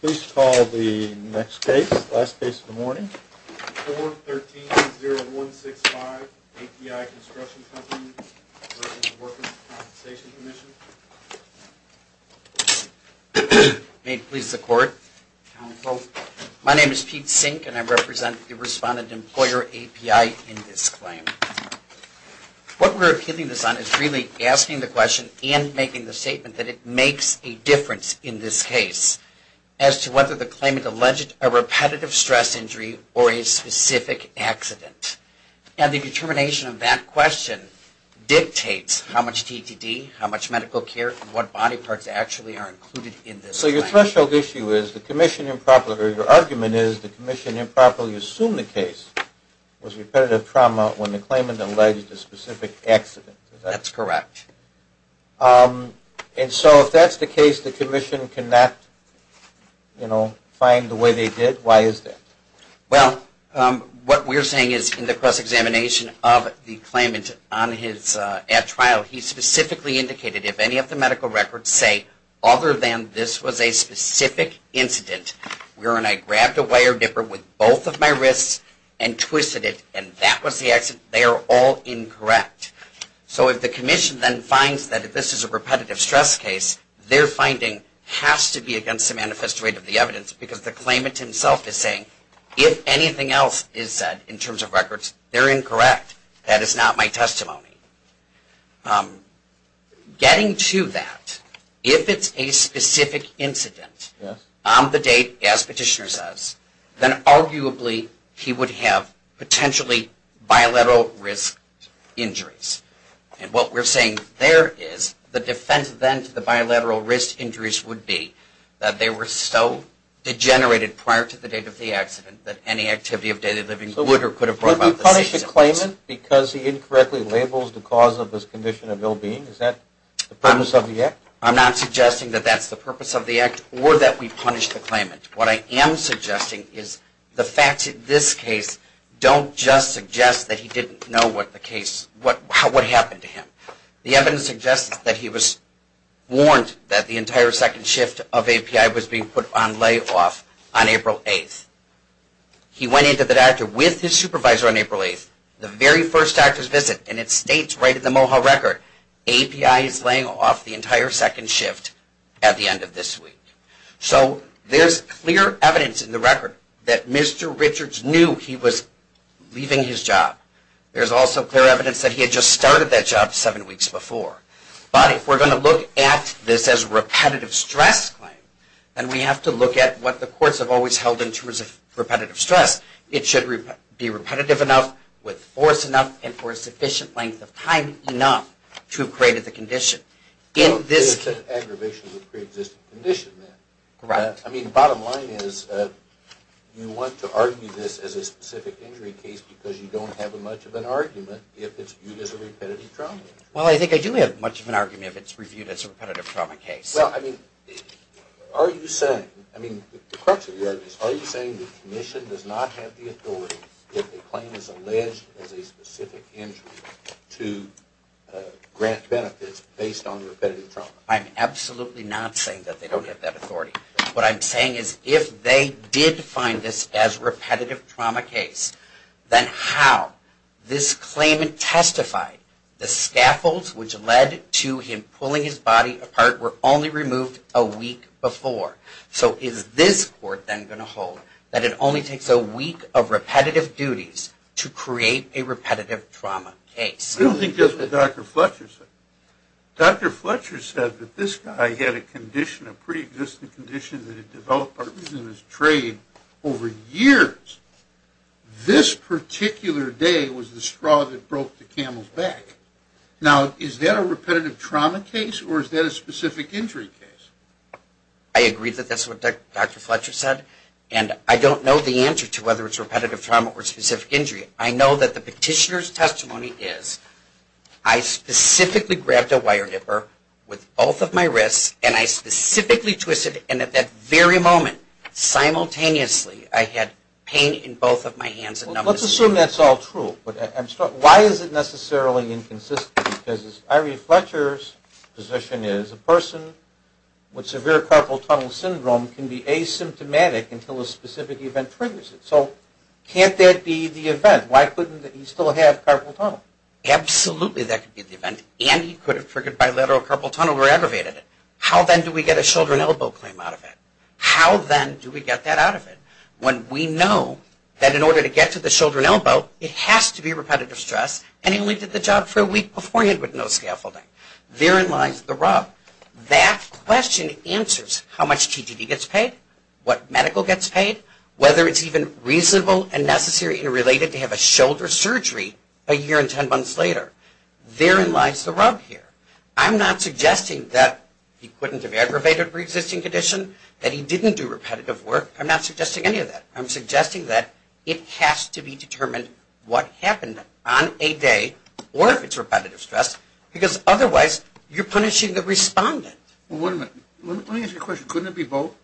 Please call the next case, last case of the morning. 4130165, API Construction Company v. Workers' Compensation Commission. May it please the Court. Counsel. My name is Pete Sink and I represent the Respondent-Employer API in this claim. What we're appealing this on is really asking the question and making the statement that it makes a difference in this case as to whether the claimant alleged a repetitive stress injury or a specific accident. And the determination of that question dictates how much DTD, how much medical care, and what body parts actually are included in this claim. So your threshold issue is the commission improperly, or your argument is the commission improperly assumed the case was repetitive trauma when the claimant alleged a specific accident. That's correct. And so if that's the case the commission cannot, you know, find the way they did, why is that? Well, what we're saying is in the cross-examination of the claimant on his at-trial he specifically indicated if any of the medical records say other than this was a specific incident wherein I grabbed a wire dipper with both of my wrists and twisted it and that was the accident, they are all incorrect. So if the commission then finds that this is a repetitive stress case, their finding has to be against the manifest rate of the evidence because the claimant himself is saying if anything else is said in terms of records, they're incorrect. That is not my testimony. Getting to that, if it's a specific incident on the date, as Petitioner says, then arguably he would have potentially bilateral risk injuries. And what we're saying there is the defense then to the bilateral risk injuries would be that they were so degenerated prior to the date of the accident that any activity of daily living would or could have broken out the season. Do you punish the claimant because he incorrectly labels the cause of this condition of ill-being? Is that the purpose of the act? I'm not suggesting that that's the purpose of the act or that we punish the claimant. What I am suggesting is the facts in this case don't just suggest that he didn't know what the case, what happened to him. The evidence suggests that he was warned that the entire second shift of API was being put on layoff on April 8th. He went into the doctor with his supervisor on April 8th, the very first doctor's visit, and it states right in the MOHA record, API is laying off the entire second shift at the end of this week. So there's clear evidence in the record that Mr. Richards knew he was leaving his job. There's also clear evidence that he had just started that job seven weeks before. But if we're going to look at this as a repetitive stress claim, then we have to look at what the courts have always held in terms of repetitive stress. It should be repetitive enough, with force enough, and for a sufficient length of time enough to have created the condition. It is an aggravation of a pre-existing condition then. Correct. I mean, the bottom line is you want to argue this as a specific injury case because you don't have much of an argument if it's viewed as a repetitive trauma. Well, I think I do have much of an argument if it's reviewed as a repetitive trauma case. Well, I mean, are you saying, I mean, the crux of your argument is, are you saying the commission does not have the authority if a claim is alleged as a specific injury to grant benefits based on repetitive trauma? I'm absolutely not saying that they don't have that authority. What I'm saying is if they did find this as repetitive trauma case, then how? This claimant testified the scaffolds which led to him pulling his body apart were only removed a week before. So is this court then going to hold that it only takes a week of repetitive duties to create a repetitive trauma case? I don't think that's what Dr. Fletcher said. Dr. Fletcher said that this guy had a condition, a pre-existing condition that had developed in his trade over years. This particular day was the straw that broke the camel's back. Now, is that a repetitive trauma case or is that a specific injury case? I agree that that's what Dr. Fletcher said, and I don't know the answer to whether it's repetitive trauma or specific injury. I know that the petitioner's testimony is, I specifically grabbed a wire nipper with both of my wrists, and I specifically twisted, and at that very moment, simultaneously, I had pain in both of my hands. Let's assume that's all true. Why is it necessarily inconsistent? Because as Irene Fletcher's position is, a person with severe carpal tunnel syndrome can be asymptomatic until a specific event triggers it. So can't that be the event? Why couldn't he still have carpal tunnel? Absolutely that could be the event, and he could have triggered bilateral carpal tunnel or aggravated it. How, then, do we get a shoulder and elbow claim out of it? How, then, do we get that out of it? When we know that in order to get to the shoulder and elbow, it has to be repetitive stress, and he only did the job for a week beforehand with no scaffolding. Therein lies the rub. That question answers how much TGD gets paid, what medical gets paid, whether it's even reasonable and necessary and related to have a shoulder surgery a year and ten months later. Therein lies the rub here. I'm not suggesting that he couldn't have aggravated a preexisting condition, that he didn't do repetitive work. I'm not suggesting any of that. I'm suggesting that it has to be determined what happened on a day, or if it's repetitive stress, because otherwise you're punishing the respondent. Well, wait a minute. Let me ask you a question. Couldn't it be both?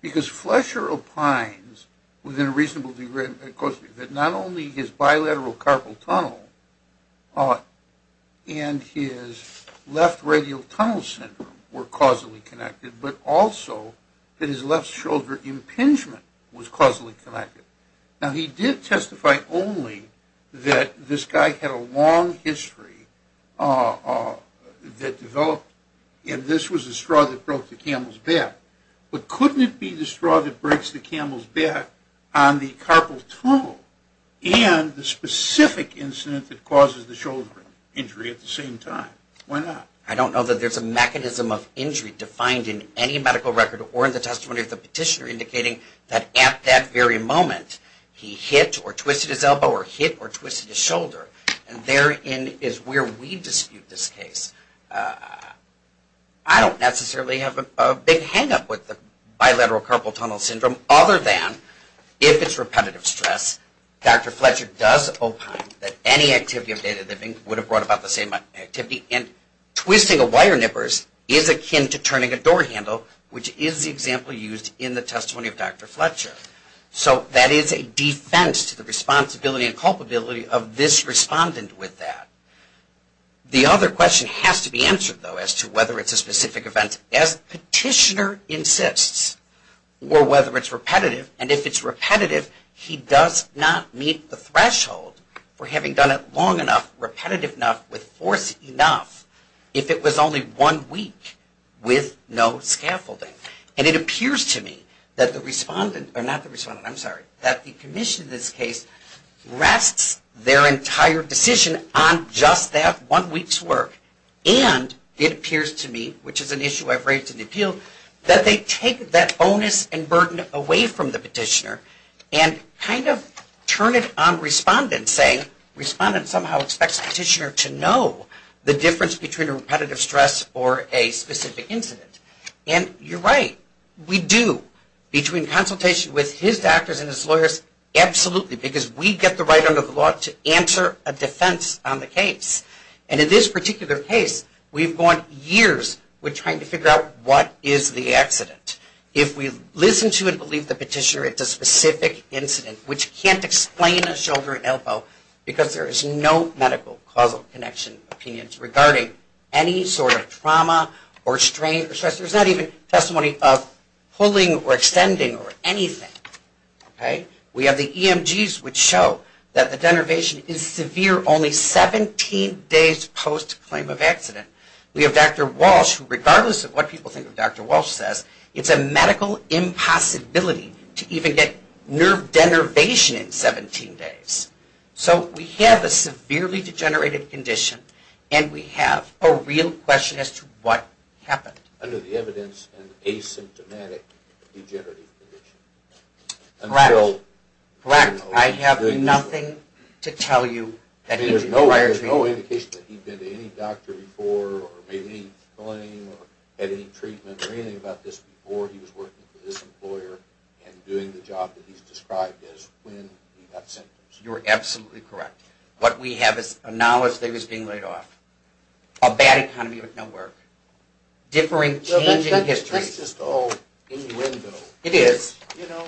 Because Flesher opines within a reasonable degree that not only his bilateral carpal tunnel and his left radial tunnel syndrome were causally connected, but also that his left shoulder impingement was causally connected. Now, he did testify only that this guy had a long history that developed, and this was the straw that broke the camel's back. But couldn't it be the straw that breaks the camel's back on the carpal tunnel and the specific incident that causes the shoulder injury at the same time? Why not? I don't know that there's a mechanism of injury defined in any medical record or in the testimony of the petitioner indicating that at that very moment, he hit or twisted his elbow or hit or twisted his shoulder, and therein is where we dispute this case. I don't necessarily have a big hang-up with the bilateral carpal tunnel syndrome, other than if it's repetitive stress, Dr. Fletcher does opine that any activity of day-to-day living would have brought about the same activity, and twisting a wire nippers is akin to turning a door handle, which is the example used in the testimony of Dr. Fletcher. So that is a defense to the responsibility and culpability of this respondent with that. The other question has to be answered, though, as to whether it's a specific event. As the petitioner insists, or whether it's repetitive, and if it's repetitive, he does not meet the threshold for having done it long enough, repetitive enough, with force enough, if it was only one week with no scaffolding. And it appears to me that the respondent, or not the respondent, I'm sorry, that the commission in this case rests their entire decision on just that one week's work, and it appears to me, which is an issue I've raised in the appeal, that they take that bonus and burden away from the petitioner and kind of turn it on respondent, saying respondent somehow expects petitioner to know the difference between a repetitive stress or a specific incident. And you're right, we do, between consultation with his doctors and his lawyers, absolutely, because we get the right under the law to answer a defense on the case. And in this particular case, we've gone years with trying to figure out what is the accident. If we listen to and believe the petitioner, it's a specific incident, which can't explain a shoulder elbow, because there is no medical causal connection, opinions regarding any sort of trauma or strain or stress. There's not even testimony of pulling or extending or anything. We have the EMGs, which show that the denervation is severe only 17 days post-claim of accident. We have Dr. Walsh, who regardless of what people think of Dr. Walsh says, it's a medical impossibility to even get nerve denervation in 17 days. So we have a severely degenerated condition, and we have a real question as to what happened. Under the evidence, an asymptomatic degenerative condition. Correct. I have nothing to tell you that needs to be wired to me. There's no indication that he'd been to any doctor before or made any claim or had any treatment or anything about this before he was working for this employer and doing the job that he's described as when he got symptoms. You are absolutely correct. What we have is a knowledge that he was being laid off, a bad economy with no work, differing, changing history. That's just all innuendo. It is. There's no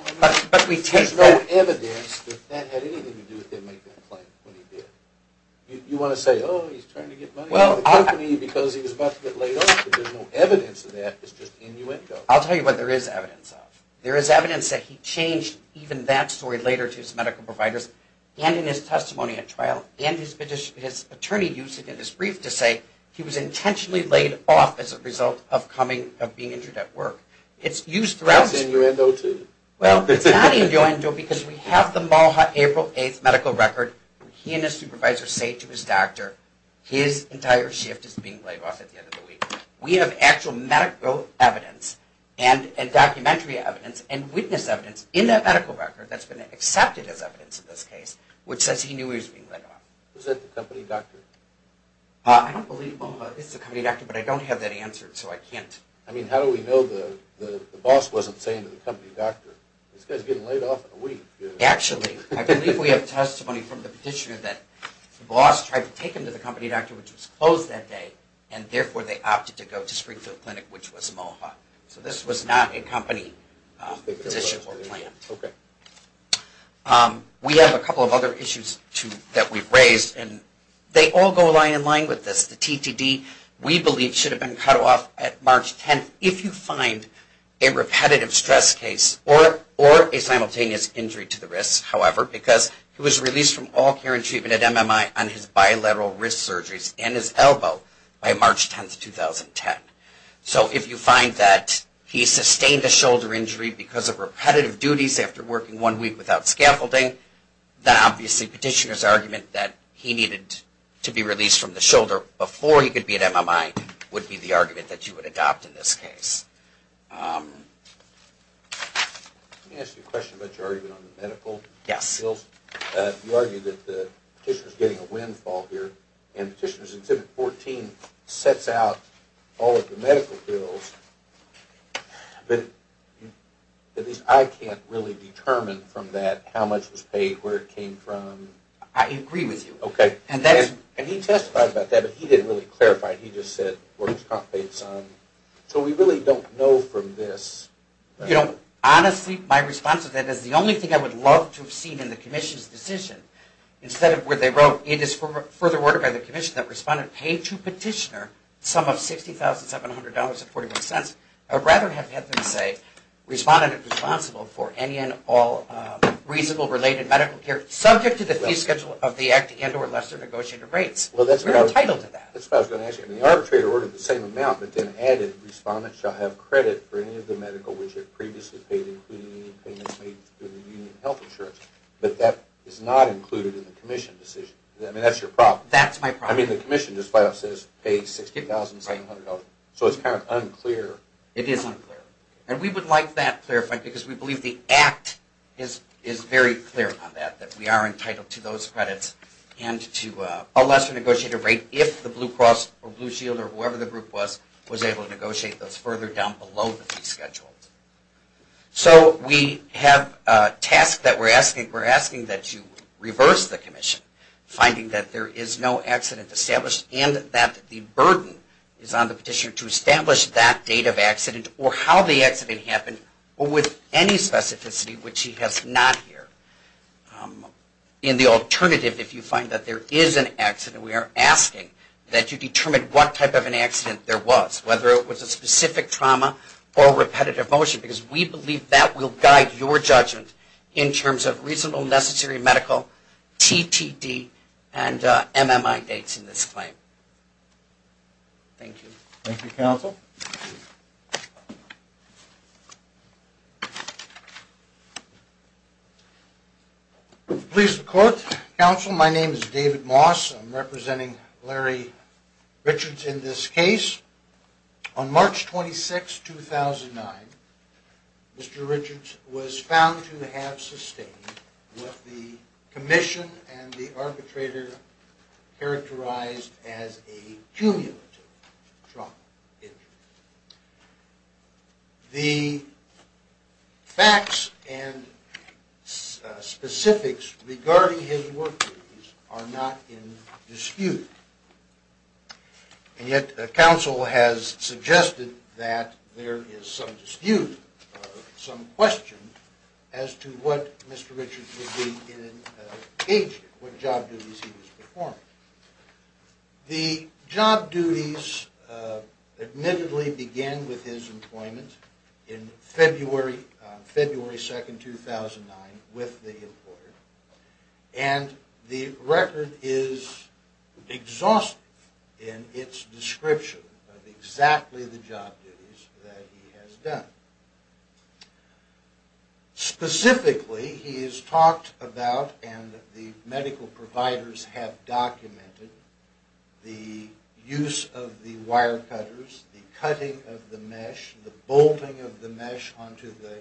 evidence that that had anything to do with him making a claim when he did. You want to say, oh, he's trying to get money out of the company because he was about to get laid off. There's no evidence of that. It's just innuendo. I'll tell you what there is evidence of. There is evidence that he changed even that story later to his medical providers and in his testimony at trial and his attorney used it in his brief to say he was intentionally laid off as a result of being injured at work. That's innuendo too. Well, it's not innuendo because we have the Malha April 8th medical record. He and his supervisor say to his doctor his entire shift is being laid off at the end of the week. We have actual medical evidence and documentary evidence and witness evidence in that medical record that's been accepted as evidence in this case which says he knew he was being laid off. Was that the company doctor? I don't believe Malha is the company doctor, but I don't have that answered, so I can't. I mean, how do we know the boss wasn't saying to the company doctor, this guy's getting laid off in a week. Actually, I believe we have testimony from the petitioner that the boss tried to take him to the company doctor which was closed that day and therefore they opted to go to Springfield Clinic which was Malha. So this was not a company position or plan. We have a couple of other issues that we've raised and they all go line in line with this. The TTD we believe should have been cut off at March 10th if you find a repetitive stress case or a simultaneous injury to the wrist, however, because he was released from all care and treatment at MMI on his bilateral wrist surgeries and his elbow by March 10th, 2010. So if you find that he sustained a shoulder injury because of repetitive duties after working one week without scaffolding, then obviously the petitioner's argument that he needed to be released from the shoulder before he could be at MMI would be the argument that you would adopt in this case. Let me ask you a question about your argument on the medical bills. You argue that the petitioner's getting a windfall here and Petitioner's Exhibit 14 sets out all of the medical bills, but at least I can't really determine from that how much was paid, where it came from. I agree with you. Okay. And he testified about that, but he didn't really clarify. He just said where it was paid some. So we really don't know from this. You know, honestly, my response to that is the only thing I would love to have seen in the commission's decision. Instead of where they wrote, it is further worded by the commission that Respondent paid to Petitioner some of $60,700.41, I'd rather have them say Respondent is responsible for any and all reasonable related medical care subject to the fee schedule of the Act and or lesser negotiated rates. We're entitled to that. That's what I was going to ask you. The arbitrator ordered the same amount, but then added Respondent shall have credit for any of the medical which it previously paid including any payments made to the union health insurance. But that is not included in the commission decision. I mean, that's your problem. That's my problem. I mean, the commission just flat out says paid $60,700. So it's kind of unclear. It is unclear. And we would like that clarified because we believe the Act is very clear on that, that we are entitled to those credits and to a lesser negotiated rate if the Blue Cross or Blue Shield or whoever the group was, was able to negotiate those further down below the fee schedule. So we have a task that we're asking. We're asking that you reverse the commission finding that there is no accident established and that the burden is on the petitioner to establish that date of accident or how the accident happened or with any specificity which he has not here. In the alternative, if you find that there is an accident, we are asking that you determine what type of an accident there was, whether it was a specific trauma or repetitive motion, because we believe that will guide your judgment in terms of reasonable necessary medical, TTD, and MMI dates in this claim. Thank you. Thank you, Counsel. Please record. Counsel, my name is David Moss. I'm representing Larry Richards in this case. On March 26, 2009, Mr. Richards was found to have sustained what the commission and the arbitrator characterized as a cumulative trauma injury. The facts and specifics regarding his work duties are not in dispute. And yet, Counsel has suggested that there is some dispute, some question, as to what Mr. Richards would be in an agent, what job duties he was performing. The job duties admittedly began with his employment in February 2, 2009 with the employer. And the record is exhaustive in its description of exactly the job duties that he has done. Specifically, he has talked about and the medical providers have documented the use of the wire cutters, the cutting of the mesh, the bolting of the mesh onto the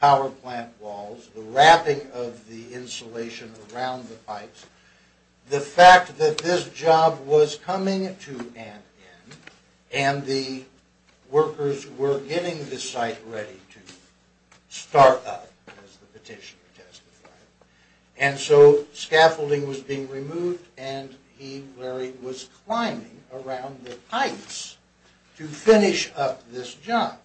power plant walls, the wrapping of the insulation around the pipes. The fact that this job was coming to an end and the workers were getting the site ready to start up, as the petitioner testified, and so scaffolding was being removed and he, Larry, was climbing around the pipes to finish up this job.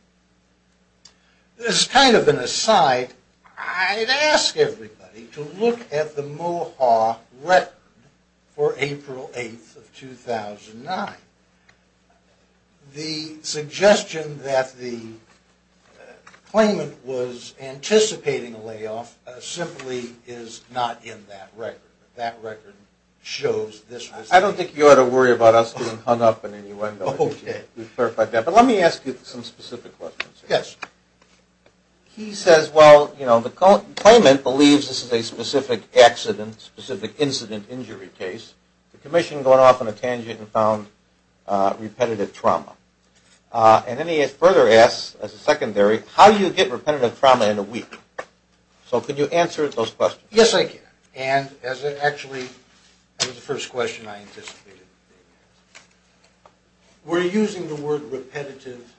As kind of an aside, I'd ask everybody to look at the Mohawk record for April 8, 2009. The suggestion that the claimant was anticipating a layoff simply is not in that record. That record shows this was the case. I don't think you ought to worry about us being hung up in any way. Okay. We've clarified that. But let me ask you some specific questions. Yes. He says, well, you know, the claimant believes this is a specific accident, specific incident injury case. The commission going off on a tangent and found repetitive trauma. And then he further asks, as a secondary, how do you get repetitive trauma in a week? So could you answer those questions? Yes, I can. Actually, that was the first question I anticipated being asked. We're using the word repetitive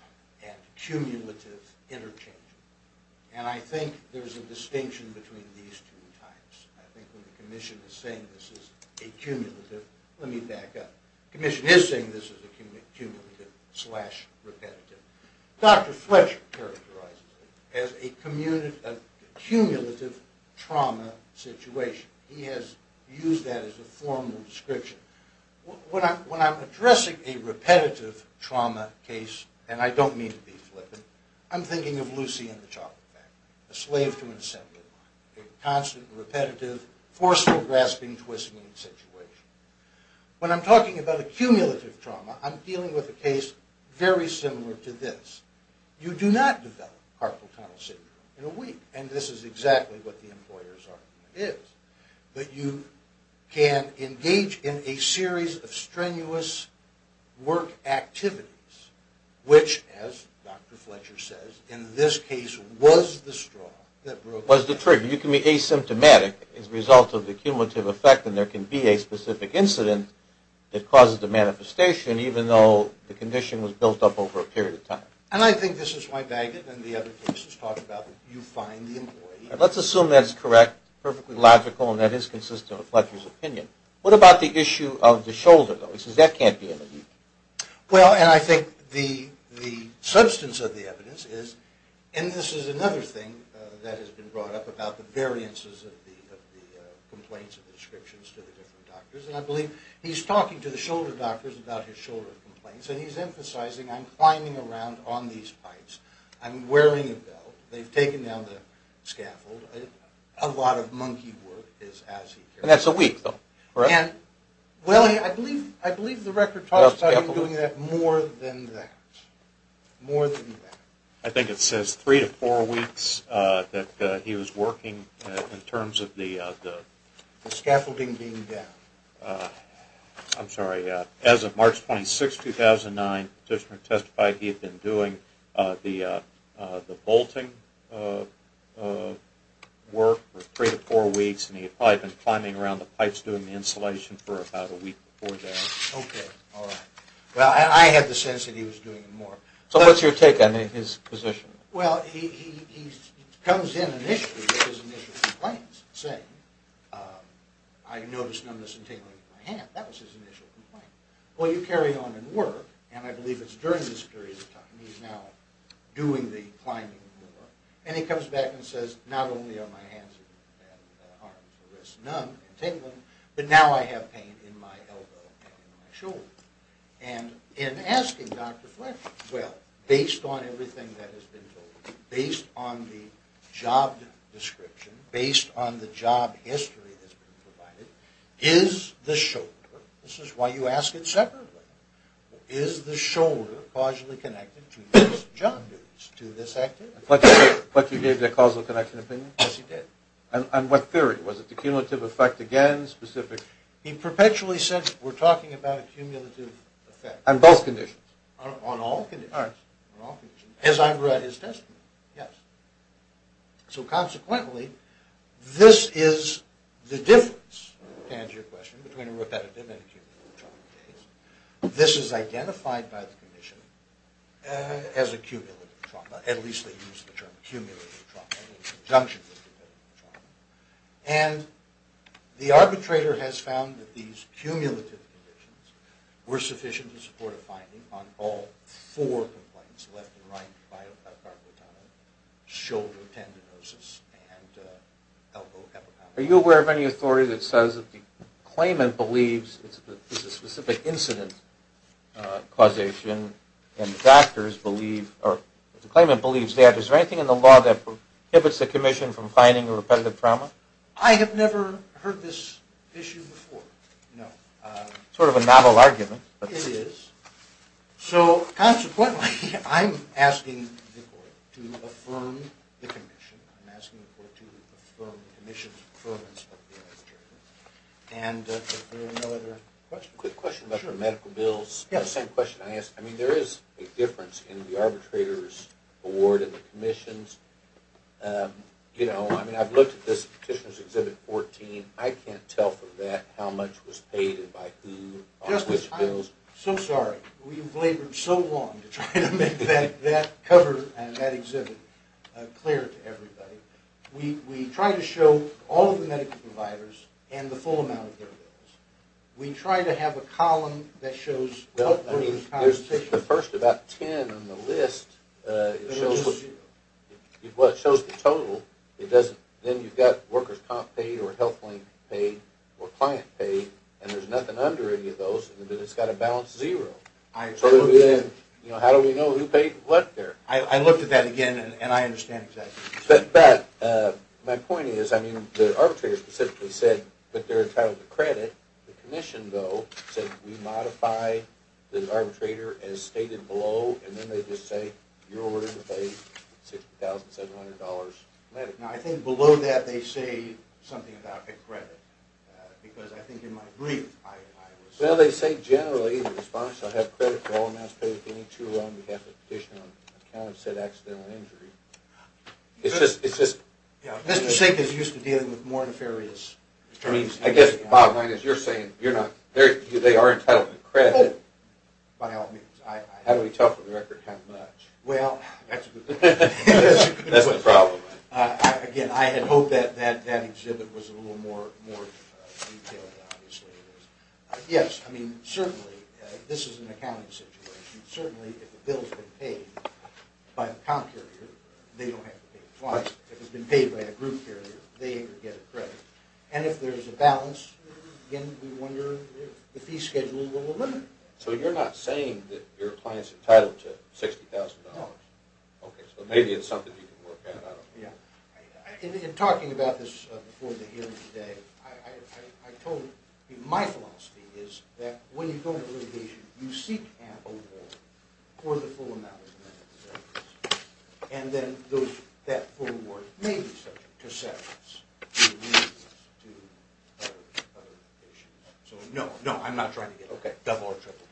and cumulative interchange. And I think there's a distinction between these two types. I think when the commission is saying this is a cumulative, let me back up. The commission is saying this is a cumulative slash repetitive. Dr. Fletcher characterizes it as a cumulative trauma situation. He has used that as a formal description. When I'm addressing a repetitive trauma case, and I don't mean to be flippant, I'm thinking of Lucy and the Chocolate Factory. A slave to an assembly line. A constant, repetitive, forceful, grasping, twisting situation. When I'm talking about a cumulative trauma, I'm dealing with a case very similar to this. You do not develop carpal tunnel syndrome in a week. And this is exactly what the employer's argument is. But you can engage in a series of strenuous work activities, which, as Dr. Fletcher says, in this case was the straw that broke the camel's back. Was the trigger. You can be asymptomatic as a result of the cumulative effect, and there can be a specific incident that causes the manifestation, even though the condition was built up over a period of time. And I think this is why Bagot and the other cases talk about you find the employee. Let's assume that's correct, perfectly logical, and that is consistent with Fletcher's opinion. What about the issue of the shoulder, though? He says that can't be an issue. Well, and I think the substance of the evidence is, and this is another thing that has been brought up about the variances of the complaints and descriptions to the different doctors, and I believe he's talking to the shoulder doctors about his shoulder complaints, and he's emphasizing, I'm climbing around on these pipes, I'm wearing a belt, they've taken down the scaffold, a lot of monkey work is as he cares. And that's a week, though, correct? Well, I believe the record talks about him doing that more than that, more than that. I think it says three to four weeks that he was working in terms of the scaffolding being down. I'm sorry, as of March 26, 2009, the petitioner testified he had been doing the bolting work for three to four weeks, and he had probably been climbing around the pipes doing the insulation for about a week before that. Okay, all right. Well, I had the sense that he was doing it more. So what's your take on his position? Well, he comes in initially with his initial complaints, saying, I noticed numbness and tingling in my hand. That was his initial complaint. Well, you carry on and work, and I believe it's during this period of time, he's now doing the climbing work, and he comes back and says, not only are my hands and arms numb and tingling, but now I have pain in my elbow and in my shoulder. And in asking Dr. Fletcher, well, based on everything that has been told, based on the job description, based on the job history that's been provided, is the shoulder, this is why you ask it separately, is the shoulder causally connected to this job, to this activity? Fletcher gave the causal connection opinion? Yes, he did. And what theory? Was it the cumulative effect again, specific? He perpetually said, we're talking about a cumulative effect. On both conditions? On all conditions. All right. As I've read his testimony, yes. So consequently, this is the difference, to answer your question, between a repetitive and a cumulative trauma case. This is identified by the commission as a cumulative trauma, at least they use the term cumulative trauma in conjunction with repetitive trauma. And the arbitrator has found that these cumulative conditions were sufficient to support a finding on all four complaints, left and right, shoulder tendinosis and elbow hepatitis. Are you aware of any authority that says that the claimant believes it's a specific incident causation and the claimant believes that? Is there anything in the law that prohibits the commission from finding a repetitive trauma? I have never heard this issue before, no. Sort of a novel argument. It is. So consequently, I'm asking the court to affirm the commission. I'm asking the court to affirm the commission's affirmance of the arbitration. And if there are no other questions. Quick question about the medical bills. Yeah. The same question I asked. I mean, there is a difference in the arbitrator's award and the commission's. You know, I mean, I've looked at this Petitioner's Exhibit 14. I can't tell from that how much was paid and by who or which bills. Justice, I'm so sorry. We've labored so long to try to make that cover and that exhibit clear to everybody. We try to show all of the medical providers and the full amount of their bills. We try to have a column that shows health workers' compensation. Well, I mean, there's the first about 10 on the list. It shows the total. Then you've got workers' comp paid or health link paid or client paid. And there's nothing under any of those. And then it's got a balance zero. How do we know who paid what there? I looked at that again, and I understand exactly. But my point is, I mean, the arbitrator specifically said that they're entitled to credit. The commission, though, said we modify the arbitrator as stated below. And then they just say you're ordered to pay $60,700. Now, I think below that they say something about a credit. Because I think in my brief, I was… Well, they say generally the respondent shall have credit for all amounts paid. If any two are wrong, we have to petition on account of said accidental injury. It's just… Mr. Sink is used to dealing with more nefarious attorneys. I guess, Bob, as you're saying, they are entitled to credit. How do we tell from the record how much? Well, that's a good question. That's the problem. Again, I had hoped that exhibit was a little more detailed than obviously it is. Yes, I mean, certainly, this is an accounting situation. Certainly, if the bill has been paid by the comp carrier, they don't have to pay it twice. If it's been paid by the group carrier, they get a credit. And if there's a balance, again, we wonder if the fee schedule will eliminate that. So, you're not saying that your client's entitled to $60,000? No. Okay, so maybe it's something you can work out. Yeah. In talking about this before the hearing today, I told you my philosophy is that when you go to litigation, you seek an award for the full amount. And then that full award may be subject to severance. So, no, no, I'm not trying to get, okay, double or triple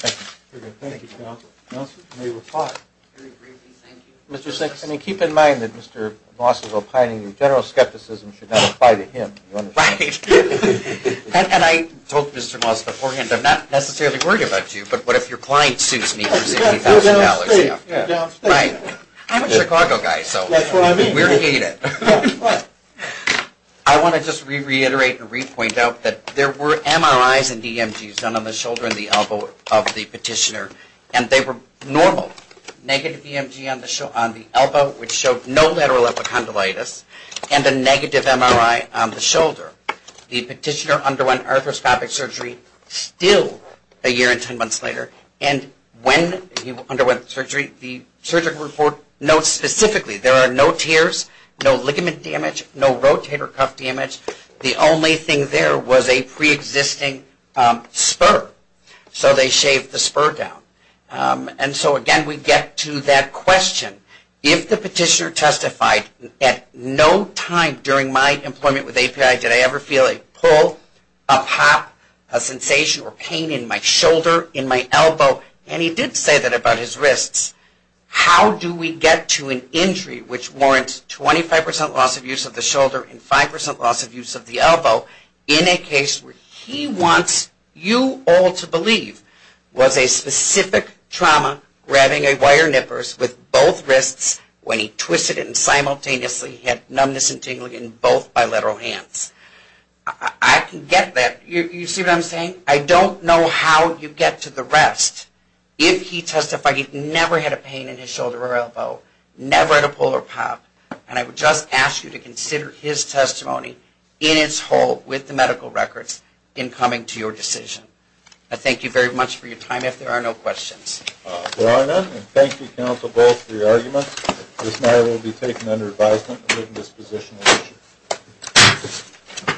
credit. Okay, thank you, counsel. Counsel, you may reply. Mr. Sink, I mean, keep in mind that Mr. Moss is opining that general skepticism should not apply to him. Right. And I told Mr. Moss beforehand, I'm not necessarily worried about you, but what if your client sues me for $60,000? You're downstate. Right. I'm a Chicago guy, so we're heated. I want to just re-reiterate and re-point out that there were MRIs and DMGs done on the shoulder and the elbow of the petitioner, and they were normal. Negative DMG on the elbow, which showed no lateral epicondylitis, and a negative MRI on the shoulder. The petitioner underwent arthroscopic surgery still a year and 10 months later, and when he underwent surgery, the surgical report notes specifically there are no tears, no ligament damage, no rotator cuff damage. The only thing there was a preexisting spur, so they shaved the spur down. And so, again, we get to that question. If the petitioner testified, at no time during my employment with API did I ever feel a pull, a pop, a sensation, or pain in my shoulder, in my elbow, and he did say that about his wrists, how do we get to an injury which warrants 25% loss of use of the shoulder and 5% loss of use of the elbow in a case where he wants you all to believe was a specific trauma grabbing a wire nippers with both wrists when he twisted it and simultaneously had numbness and tingling in both bilateral hands. I can get that. You see what I'm saying? I don't know how you get to the rest. If he testified he never had a pain in his shoulder or elbow, never had a pull or pop, and I would just ask you to consider his testimony in its whole with the medical records in coming to your decision. I thank you very much for your time. If there are no questions. There are none. And thank you, Counsel Bolt, for your argument. This matter will be taken under advisement. I take this position as issued.